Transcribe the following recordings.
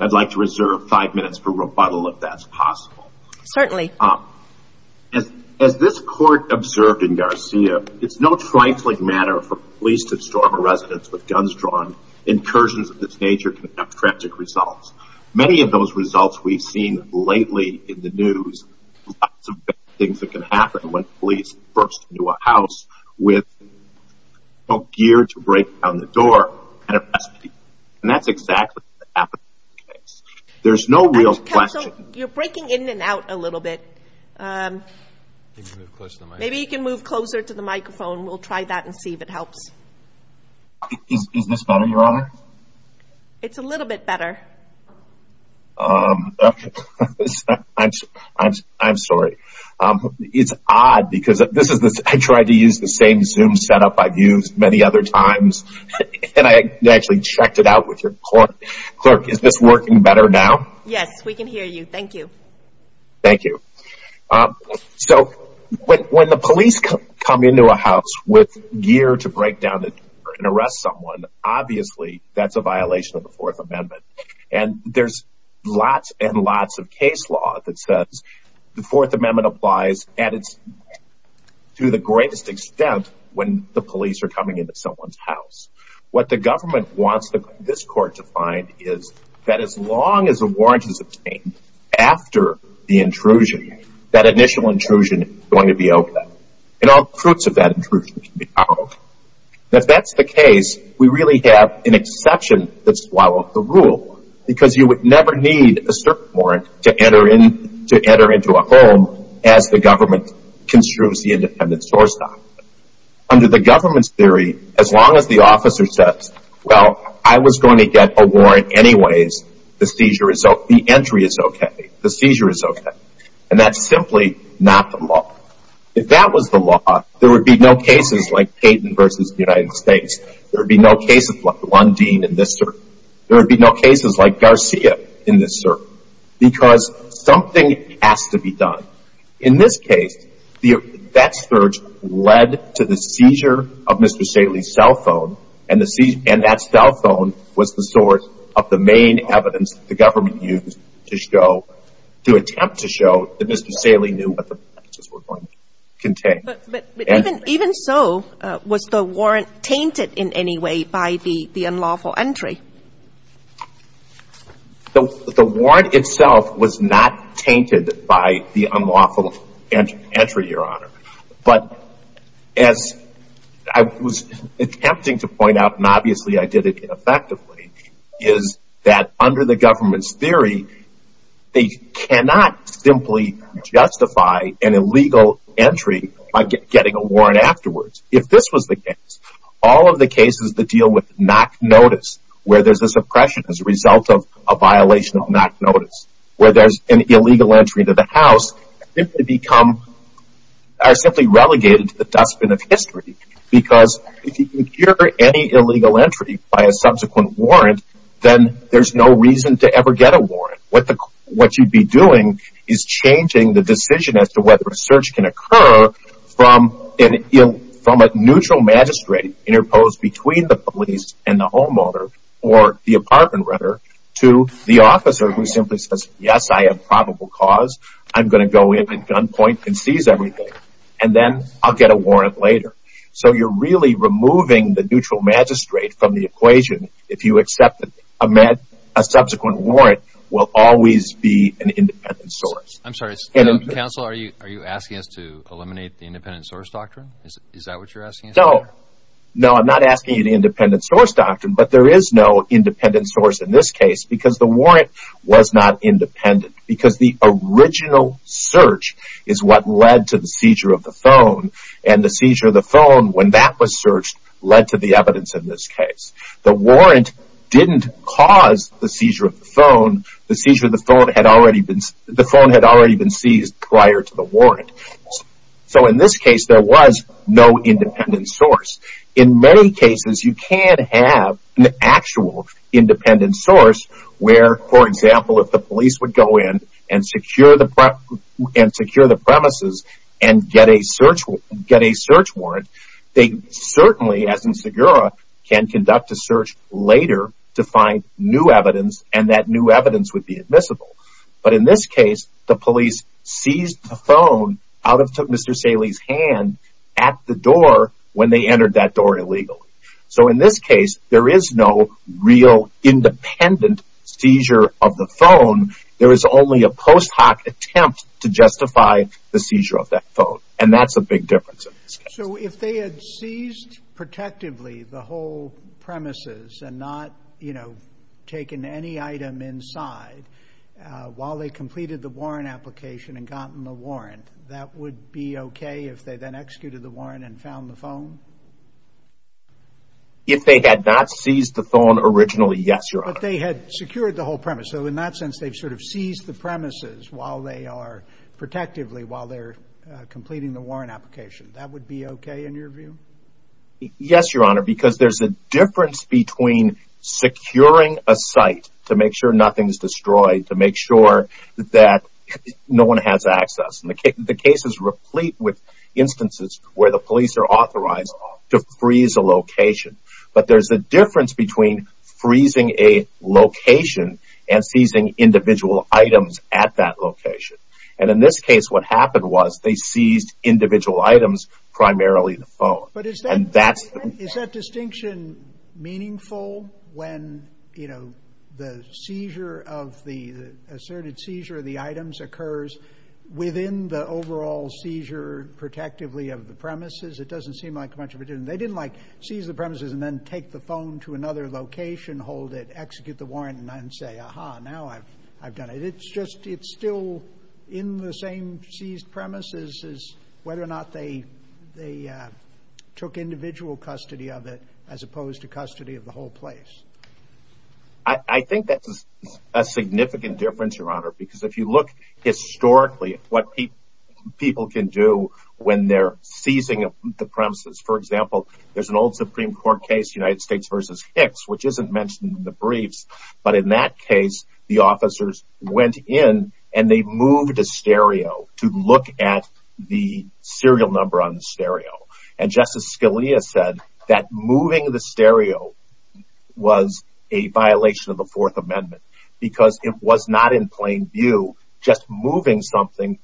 I'd like to reserve five minutes for rebuttal if that's possible. Certainly. As this court observed in Garcia, it's no trifling matter for police to storm a residence with guns drawn. Incursions of this nature can have tragic results. Many of those results we've seen lately in the news, lots of bad things that can happen when police burst into a house with no gear to break down the door. And that's exactly what happened in this case. There's no real question. You're breaking in and out a little bit. Maybe you can move closer to the microphone. We'll try that and see if it helps. Is this better, Your Honor? It's a little bit better. I'm sorry. It's odd because I tried to use the same Zoom setup I've used many other times. And I actually checked it out with your court. Clerk, is this working better now? Yes, we can hear you. Thank you. Thank you. So when the police come into a house with gear to break down the door and arrest someone, obviously that's a violation of the Fourth Amendment. And there's lots and lots of case law that says the Fourth Amendment applies to the greatest extent when the police are coming into someone's house. What the government wants this court to find is that as long as a warrant is obtained after the intrusion, that initial intrusion is going to be open. And all the fruits of that intrusion can be found. If that's the case, we really have an exception that's followed the rule because you would never need a cert warrant to enter into a home as the government construes the independent source document. Under the government's theory, as long as the officer says, well, I was going to get a warrant anyways, the entry is okay, the seizure is okay. And that's simply not the law. If that was the law, there would be no cases like Peyton versus the United States. There would be no cases like Lundin in this circle. There would be no cases like Garcia in this circle because something has to be done. In this case, that search led to the seizure of Mr. Saley's cell phone, and that cell phone was the source of the main evidence the government used to show, to attempt to show that Mr. Saley knew what the devices were going to contain. But even so, was the warrant tainted in any way by the unlawful entry? The warrant itself was not tainted by the unlawful entry, Your Honor. But as I was attempting to point out, and obviously I did it ineffectively, is that under the government's theory, they cannot simply justify an illegal entry by getting a warrant afterwards. If this was the case, all of the cases that deal with knock notice, where there's a suppression as a result of a violation of knock notice, where there's an illegal entry to the house, because if you secure any illegal entry by a subsequent warrant, then there's no reason to ever get a warrant. What you'd be doing is changing the decision as to whether a search can occur from a neutral magistrate interposed between the police and the homeowner, or the apartment renter, to the officer who simply says, yes, I have probable cause, I'm going to go in at gunpoint and seize everything, and then I'll get a warrant later. So you're really removing the neutral magistrate from the equation if you accept that a subsequent warrant will always be an independent source. I'm sorry, counsel, are you asking us to eliminate the independent source doctrine? Is that what you're asking us to do? No, I'm not asking you the independent source doctrine, but there is no independent source in this case, because the warrant was not independent, because the original search is what led to the seizure of the phone, and the seizure of the phone, when that was searched, led to the evidence in this case. The warrant didn't cause the seizure of the phone. The phone had already been seized prior to the warrant. So in this case, there was no independent source. In many cases, you can have an actual independent source where, for example, if the police would go in and secure the premises and get a search warrant, they certainly, as in Segura, can conduct a search later to find new evidence, and that new evidence would be admissible. But in this case, the police seized the phone out of Mr. Saley's hand at the door when they entered that door illegally. So in this case, there is no real independent seizure of the phone. There is only a post hoc attempt to justify the seizure of that phone, and that's a big difference in this case. So if they had seized protectively the whole premises and not taken any item inside while they completed the warrant application and gotten the warrant, that would be okay if they then executed the warrant and found the phone? If they had not seized the phone originally, yes, Your Honor. But they had secured the whole premise. So in that sense, they've sort of seized the premises while they are, protectively while they're completing the warrant application. That would be okay in your view? Yes, Your Honor, because there's a difference between securing a site to make sure nothing is destroyed, to make sure that no one has access. The case is replete with instances where the police are authorized to freeze a location. But there's a difference between freezing a location and seizing individual items at that location. And in this case, what happened was they seized individual items, primarily the phone. But is that distinction meaningful when, you know, the seizure of the asserted seizure of the items occurs within the overall seizure protectively of the premises? It doesn't seem like much of a difference. They didn't like seize the premises and then take the phone to another location, hold it, execute the warrant, and then say, aha, now I've done it. It's just it's still in the same seized premises as whether or not they took individual custody of it as opposed to custody of the whole place. I think that's a significant difference, Your Honor, because if you look historically at what people can do when they're seizing the premises, for example, there's an old Supreme Court case, United States v. Hicks, which isn't mentioned in the briefs. But in that case, the officers went in and they moved a stereo to look at the serial number on the stereo. And Justice Scalia said that moving the stereo was a violation of the Fourth Amendment because it was not in plain view. Just moving something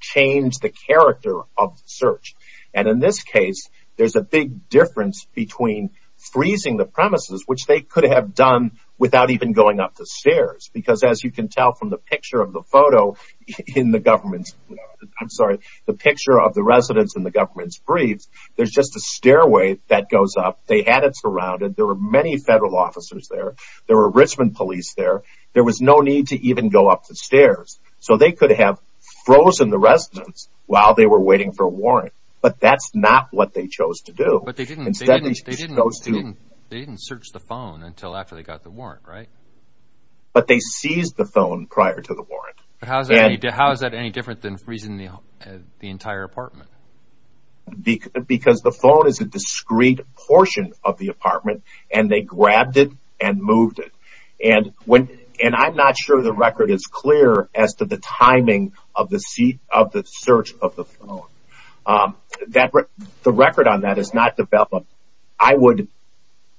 changed the character of the search. And in this case, there's a big difference between freezing the premises, which they could have done without even going up the stairs, because as you can tell from the picture of the photo in the government's, I'm sorry, the picture of the residence in the government's briefs, there's just a stairway that goes up. They had it surrounded. There were many federal officers there. There were Richmond police there. There was no need to even go up the stairs. So they could have frozen the residence while they were waiting for a warrant, but that's not what they chose to do. But they didn't search the phone until after they got the warrant, right? But they seized the phone prior to the warrant. But how is that any different than freezing the entire apartment? Because the phone is a discrete portion of the apartment, and they grabbed it and moved it. And I'm not sure the record is clear as to the timing of the search of the phone. The record on that is not developed. I would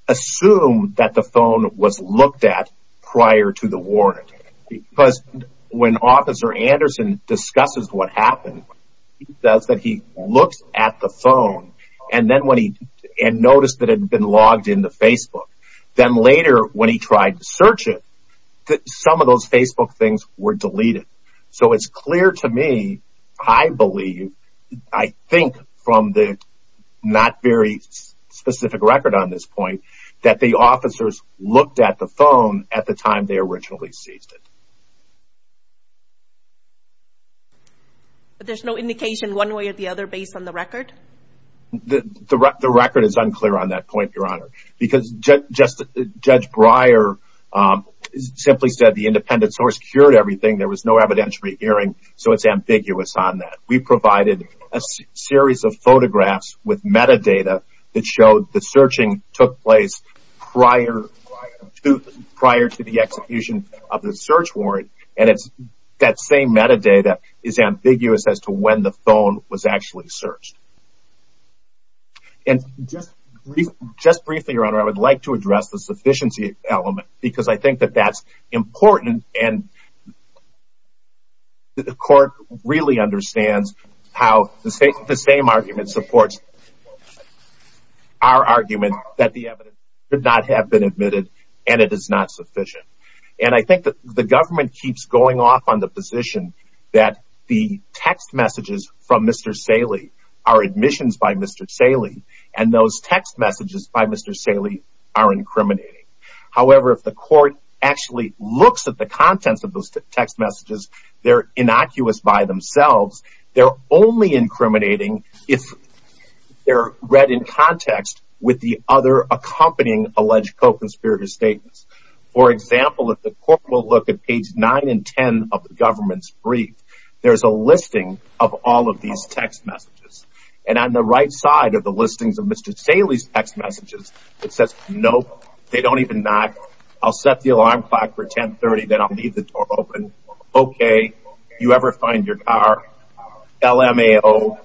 assume that the phone was looked at prior to the warrant, because when Officer Anderson discusses what happened, he says that he looks at the phone and noticed that it had been logged into Facebook. Then later when he tried to search it, some of those Facebook things were deleted. So it's clear to me, I believe, I think from the not very specific record on this point, that the officers looked at the phone at the time they originally seized it. But there's no indication one way or the other based on the record? The record is unclear on that point, Your Honor, because Judge Breyer simply said the independent source cured everything. There was no evidentiary hearing, so it's ambiguous on that. We provided a series of photographs with metadata that showed the searching took place prior to the execution of the search warrant, and that same metadata is ambiguous as to when the phone was actually searched. And just briefly, Your Honor, I would like to address the sufficiency element, because I think that that's important, and the court really understands how the same argument supports our argument that the evidence could not have been admitted, and it is not sufficient. And I think that the government keeps going off on the position that the text messages from Mr. Saley are admissions by Mr. Saley, and those text messages by Mr. Saley are incriminating. However, if the court actually looks at the contents of those text messages, they're innocuous by themselves. They're only incriminating if they're read in context with the other accompanying alleged co-conspirator statements. For example, if the court will look at page 9 and 10 of the government's brief, there's a listing of all of these text messages. And on the right side of the listings of Mr. Saley's text messages, it says, Nope, they don't even knock. I'll set the alarm clock for 1030, then I'll leave the door open. Okay, you ever find your car? LMAO.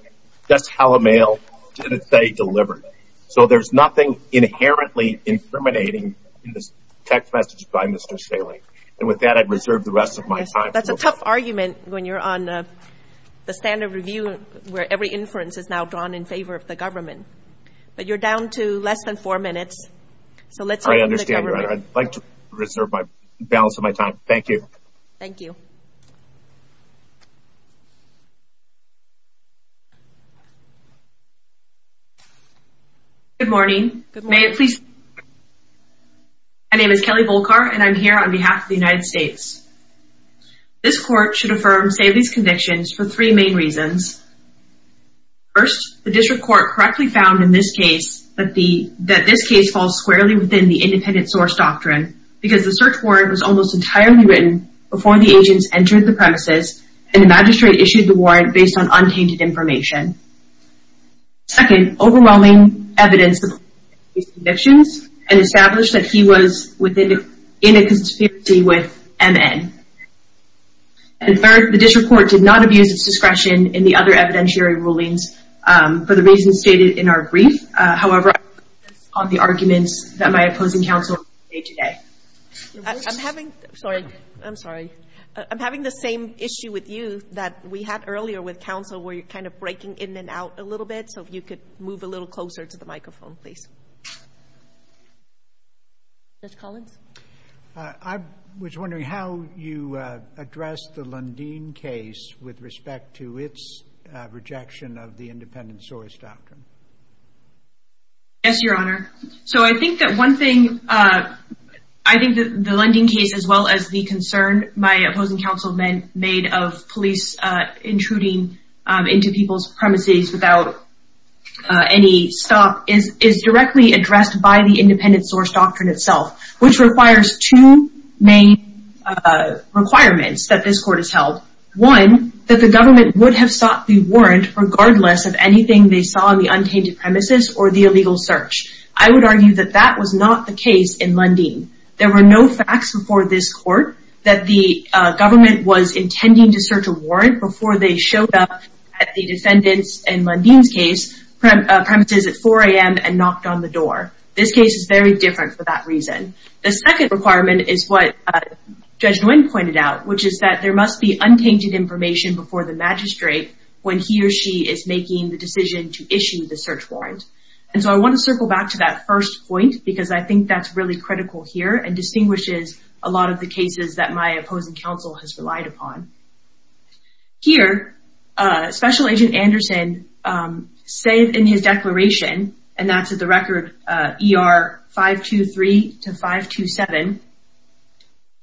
That's Hallamale. Did it say delivered? So there's nothing inherently incriminating in this text message by Mr. Saley. And with that, I'd reserve the rest of my time. That's a tough argument when you're on the standard review where every inference is now drawn in favor of the government. But you're down to less than four minutes. I understand. I'd like to reserve the balance of my time. Thank you. Thank you. Good morning. My name is Kelly Volkar, and I'm here on behalf of the United States. This court should affirm Saley's convictions for three main reasons. First, the district court correctly found in this case that this case falls squarely within the independent source doctrine because the search warrant was almost entirely written before the agents entered the premises and the magistrate issued the warrant based on untainted information. Second, overwhelming evidence of Saley's convictions and established that he was in a conspiracy with MN. And third, the district court did not abuse its discretion in the other evidentiary rulings for the reasons stated in our brief. However, on the arguments that my opposing counsel made today. I'm having the same issue with you that we had earlier with counsel where you're kind of breaking in and out a little bit. So if you could move a little closer to the microphone, please. Judge Collins? I was wondering how you addressed the Lundin case with respect to its rejection of the independent source doctrine. Yes, Your Honor. So I think that one thing, I think that the Lundin case as well as the concern my opposing counsel made of police intruding into people's premises without any stop is directly addressed by the independent source doctrine itself, which requires two main requirements that this court has held. One, that the government would have sought the warrant regardless of anything they saw on the untainted premises or the illegal search. I would argue that that was not the case in Lundin. There were no facts before this court that the government was intending to search a warrant before they showed up at the defendant's, in Lundin's case, premises at 4 a.m. and knocked on the door. This case is very different for that reason. The second requirement is what Judge Nguyen pointed out, which is that there must be untainted information before the magistrate when he or she is making the decision to issue the search warrant. And so I want to circle back to that first point because I think that's really critical here and distinguishes a lot of the cases that my opposing counsel has relied upon. Here, Special Agent Anderson said in his declaration, and that's at the record ER 523 to 527,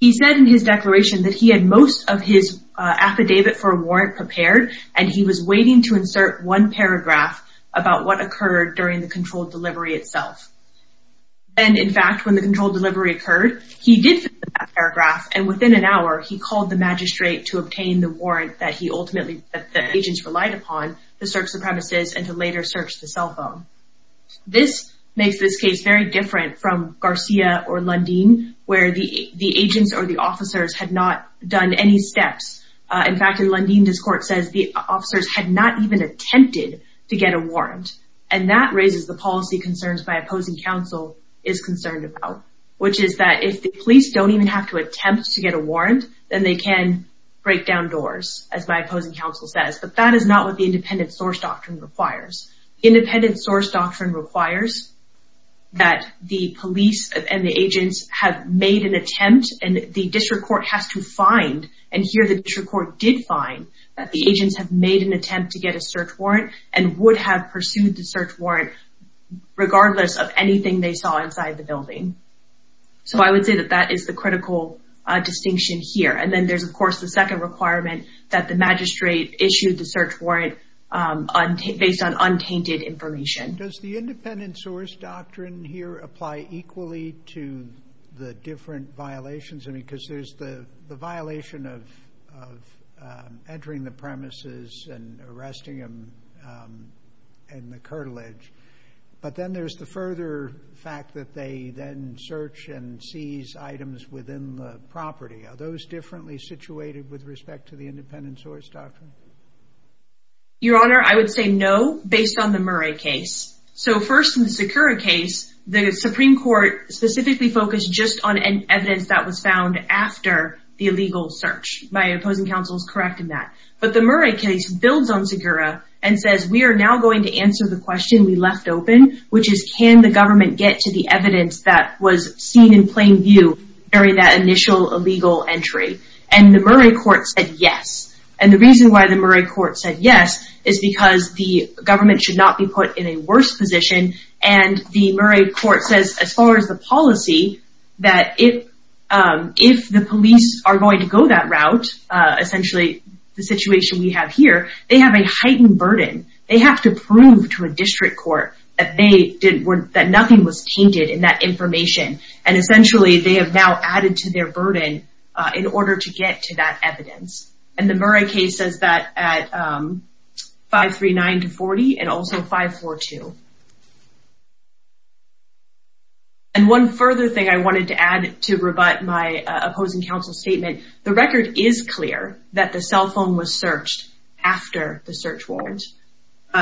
he said in his declaration that he had most of his affidavit for a warrant prepared, and he was waiting to insert one paragraph about what occurred during the controlled delivery itself. Then, in fact, when the controlled delivery occurred, he did finish that paragraph, and within an hour, he called the magistrate to obtain the warrant that he ultimately, that the agents relied upon to search the premises and to later search the cell phone. This makes this case very different from Garcia or Lundin, where the agents or the officers had not done any steps. In fact, in Lundin, his court says the officers had not even attempted to get a warrant, and that raises the policy concerns my opposing counsel is concerned about, which is that if the police don't even have to attempt to get a warrant, then they can break down doors, as my opposing counsel says. But that is not what the independent source doctrine requires. Independent source doctrine requires that the police and the agents have made an attempt, and the district court has to find, and here the district court did find, that the agents have made an attempt to get a search warrant and would have pursued the search warrant regardless of anything they saw inside the building. So I would say that that is the critical distinction here. And then there's, of course, the second requirement that the magistrate issue the search warrant based on untainted information. Does the independent source doctrine here apply equally to the different violations? Because there's the violation of entering the premises and arresting them and the curtilage, but then there's the further fact that they then search and seize items within the property. Are those differently situated with respect to the independent source doctrine? Your Honor, I would say no based on the Murray case. So first in the Sakura case, the Supreme Court specifically focused just on evidence that was found after the illegal search. My opposing counsel is correct in that. But the Murray case builds on Sakura and says, we are now going to answer the question we left open, which is can the government get to the evidence that was seen in plain view during that initial illegal entry? And the Murray court said yes. And the reason why the Murray court said yes is because the government should not be put in a worse position. And the Murray court says, as far as the policy, that if the police are going to go that route, essentially the situation we have here, they have a heightened burden. They have to prove to a district court that nothing was tainted in that information. And essentially they have now added to their burden in order to get to that evidence. And the Murray case says that at 539-40 and also 542. And one further thing I wanted to add to rebut my opposing counsel's statement, the record is clear that the cell phone was searched after the search warrant.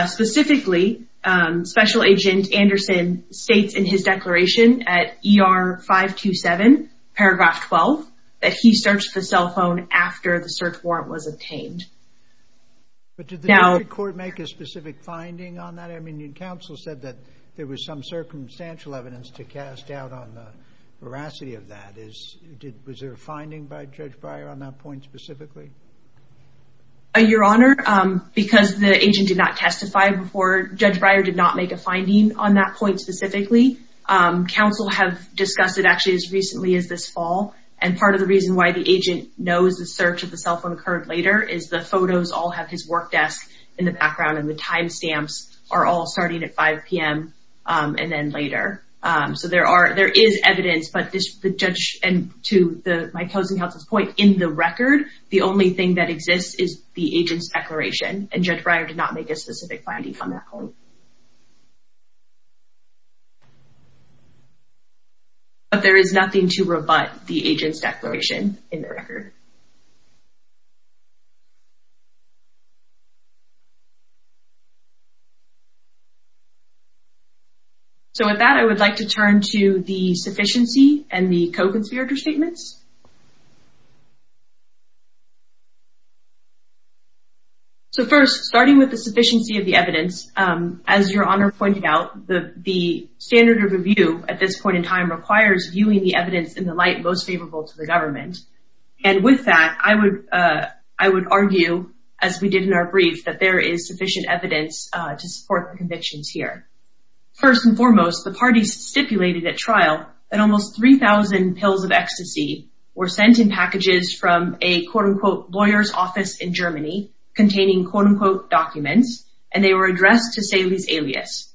Specifically, special agent Anderson states in his declaration at ER 527 paragraph 12, that he searched the cell phone after the search warrant was obtained. But did the court make a specific finding on that? I mean, counsel said that there was some circumstantial evidence to cast doubt on the veracity of that. Was there a finding by Judge Breyer on that point specifically? Your Honor, because the agent did not testify before, Judge Breyer did not make a finding on that point specifically. Counsel have discussed it actually as recently as this fall. And part of the reason why the agent knows the search of the cell phone occurred later is the photos all have his work desk in the background and the timestamps are all starting at 5 p.m. and then later. So there is evidence, but to my opposing counsel's point, in the record, the only thing that exists is the agent's declaration. And Judge Breyer did not make a specific finding on that point. But there is nothing to rebut the agent's declaration in the record. So with that, I would like to turn to the sufficiency and the co-conspirator statements. So first, starting with the sufficiency of the evidence, as Your Honor pointed out, the standard of review at this point in time requires viewing the evidence in the light most favorable to the government. And with that, I would argue, as we did in our brief, that there is sufficient evidence to support the convictions here. First and foremost, the parties stipulated at trial that almost 3,000 pills of ecstasy were sent in packages from a, quote-unquote, lawyer's office in Germany, containing, quote-unquote, documents, and they were addressed to Salih's alias.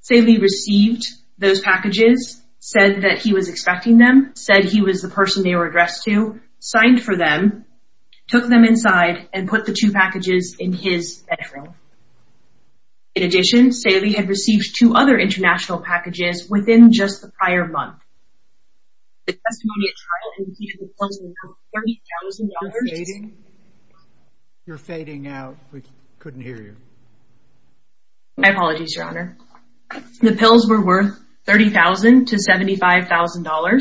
Salih received those packages, said that he was expecting them, said he was the person they were addressed to, signed for them, took them inside, and put the two packages in his bedroom. In addition, Salih had received two other international packages within just the prior month. The testimony at trial indicated the pills were worth $30,000. You're fading. You're fading out. We couldn't hear you. My apologies, Your Honor. The pills were worth $30,000 to $75,000.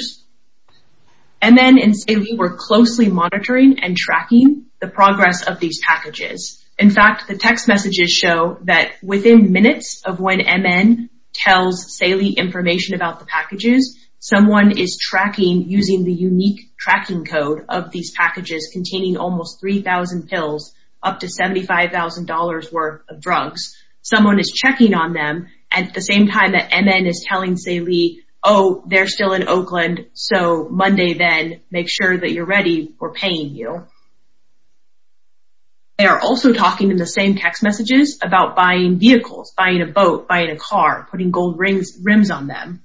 MN and Salih were closely monitoring and tracking the progress of these packages. In fact, the text messages show that within minutes of when MN tells Salih information about the packages, someone is tracking using the unique tracking code of these packages containing almost 3,000 pills, up to $75,000 worth of drugs. Someone is checking on them at the same time that MN is telling Salih, oh, they're still in Oakland, so Monday then, make sure that you're ready, we're paying you. They are also talking in the same text messages about buying vehicles, buying a boat, buying a car, putting gold rims on them.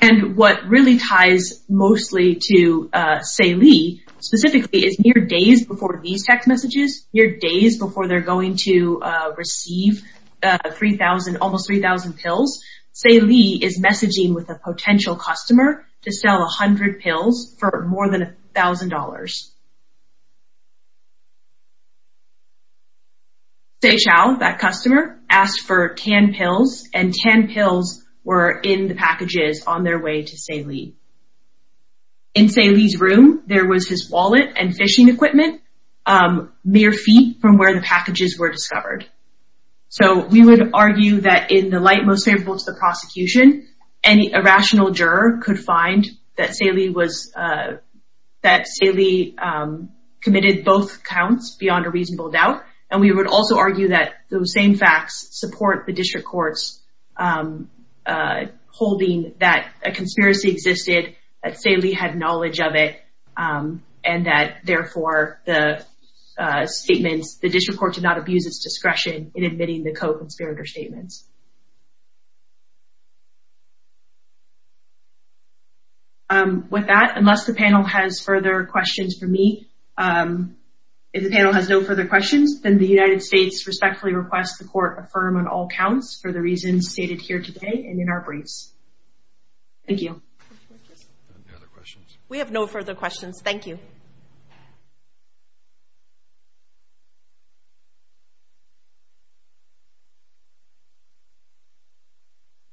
And what really ties mostly to Salih, specifically is near days before these text messages, near days before they're going to receive almost 3,000 pills, Salih is messaging with a potential customer to sell 100 pills for more than $1,000. Say Chow, that customer, asked for 10 pills, and 10 pills were in the packages on their way to Salih. In Salih's room, there was his wallet and fishing equipment, mere feet from where the packages were discovered. So we would argue that in the light most favorable to the prosecution, a rational juror could find that Salih committed both counts beyond a reasonable doubt, and we would also argue that those same facts support the district court's holding that a conspiracy existed, that Salih had knowledge of it, and that therefore the district court did not abuse its discretion in admitting the co-conspirator statements. With that, unless the panel has further questions for me, if the panel has no further questions, then the United States respectfully requests the court affirm on all counts for the reasons stated here today and in our briefs. Thank you. Any other questions? We have no further questions. Thank you.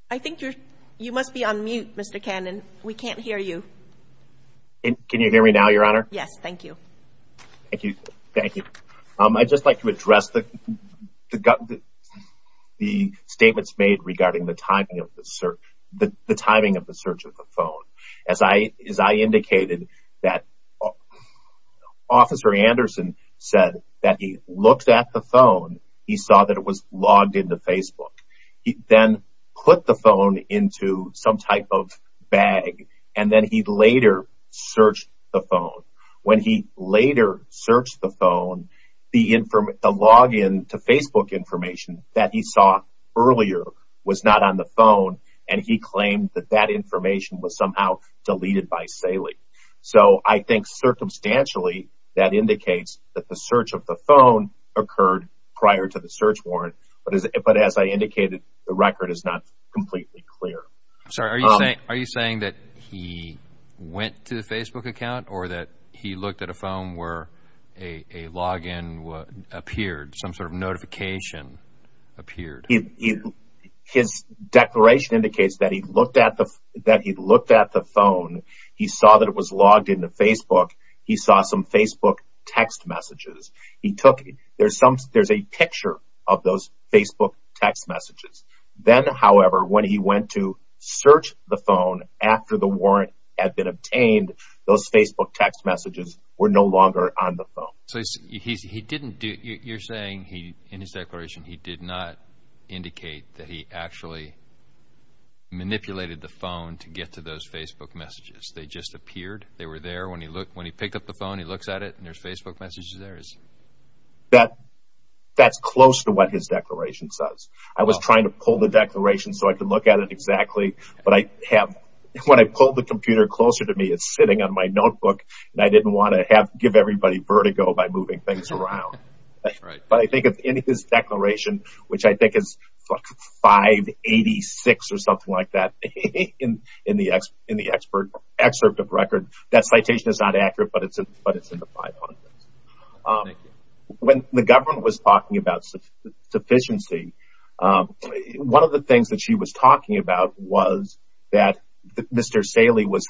I think you must be on mute, Mr. Cannon. We can't hear you. Can you hear me now, Your Honor? Yes. Thank you. Thank you. I'd just like to address the statements made regarding the timing of the search of the phone. As I indicated, Officer Anderson said that he looked at the phone, he saw that it was logged into Facebook. He then put the phone into some type of bag, and then he later searched the phone. When he later searched the phone, the login to Facebook information that he saw earlier was not on the phone, and he claimed that that information was somehow deleted by Saley. So I think circumstantially that indicates that the search of the phone occurred prior to the search warrant, but as I indicated, the record is not completely clear. Are you saying that he went to the Facebook account or that he looked at a phone where a login appeared, some sort of notification appeared? His declaration indicates that he looked at the phone. He saw that it was logged into Facebook. He saw some Facebook text messages. There's a picture of those Facebook text messages. Then, however, when he went to search the phone after the warrant had been obtained, those Facebook text messages were no longer on the phone. So you're saying in his declaration he did not indicate that he actually manipulated the phone to get to those Facebook messages? They just appeared? They were there when he picked up the phone, he looks at it, and there's Facebook messages there? That's close to what his declaration says. I was trying to pull the declaration so I could look at it exactly, but when I pulled the computer closer to me, it's sitting on my notebook, and I didn't want to give everybody vertigo by moving things around. But I think in his declaration, which I think is 586 or something like that in the excerpt of record, that citation is not accurate, but it's in the 500s. When the government was talking about sufficiency, one of the things that she was talking about was that Mr. Saley was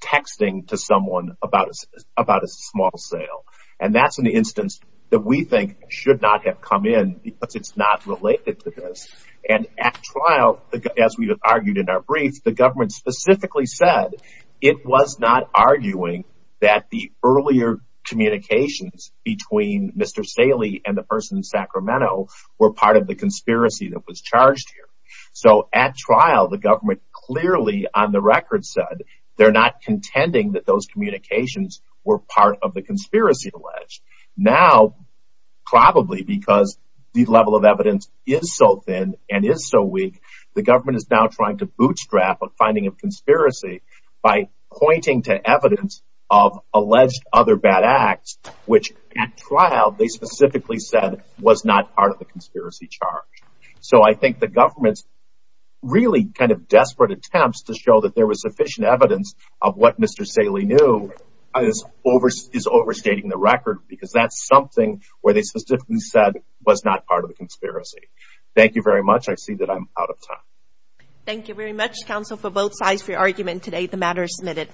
texting to someone about a small sale, and that's an instance that we think should not have come in because it's not related to this. And at trial, as we argued in our brief, the government specifically said it was not arguing that the earlier communications between Mr. Saley and the person in Sacramento were part of the conspiracy that was charged here. So at trial, the government clearly on the record said they're not contending that those communications were part of the conspiracy alleged. Now, probably because the level of evidence is so thin and is so weak, the government is now trying to bootstrap a finding of conspiracy by pointing to evidence of alleged other bad acts, which at trial they specifically said was not part of the conspiracy charge. So I think the government's really kind of desperate attempts to show that there was sufficient evidence of what Mr. Saley knew is overstating the record because that's something where they specifically said was not part of the conspiracy. Thank you very much. I see that I'm out of time. Thank you very much, counsel, for both sides for your argument today. The matter is submitted.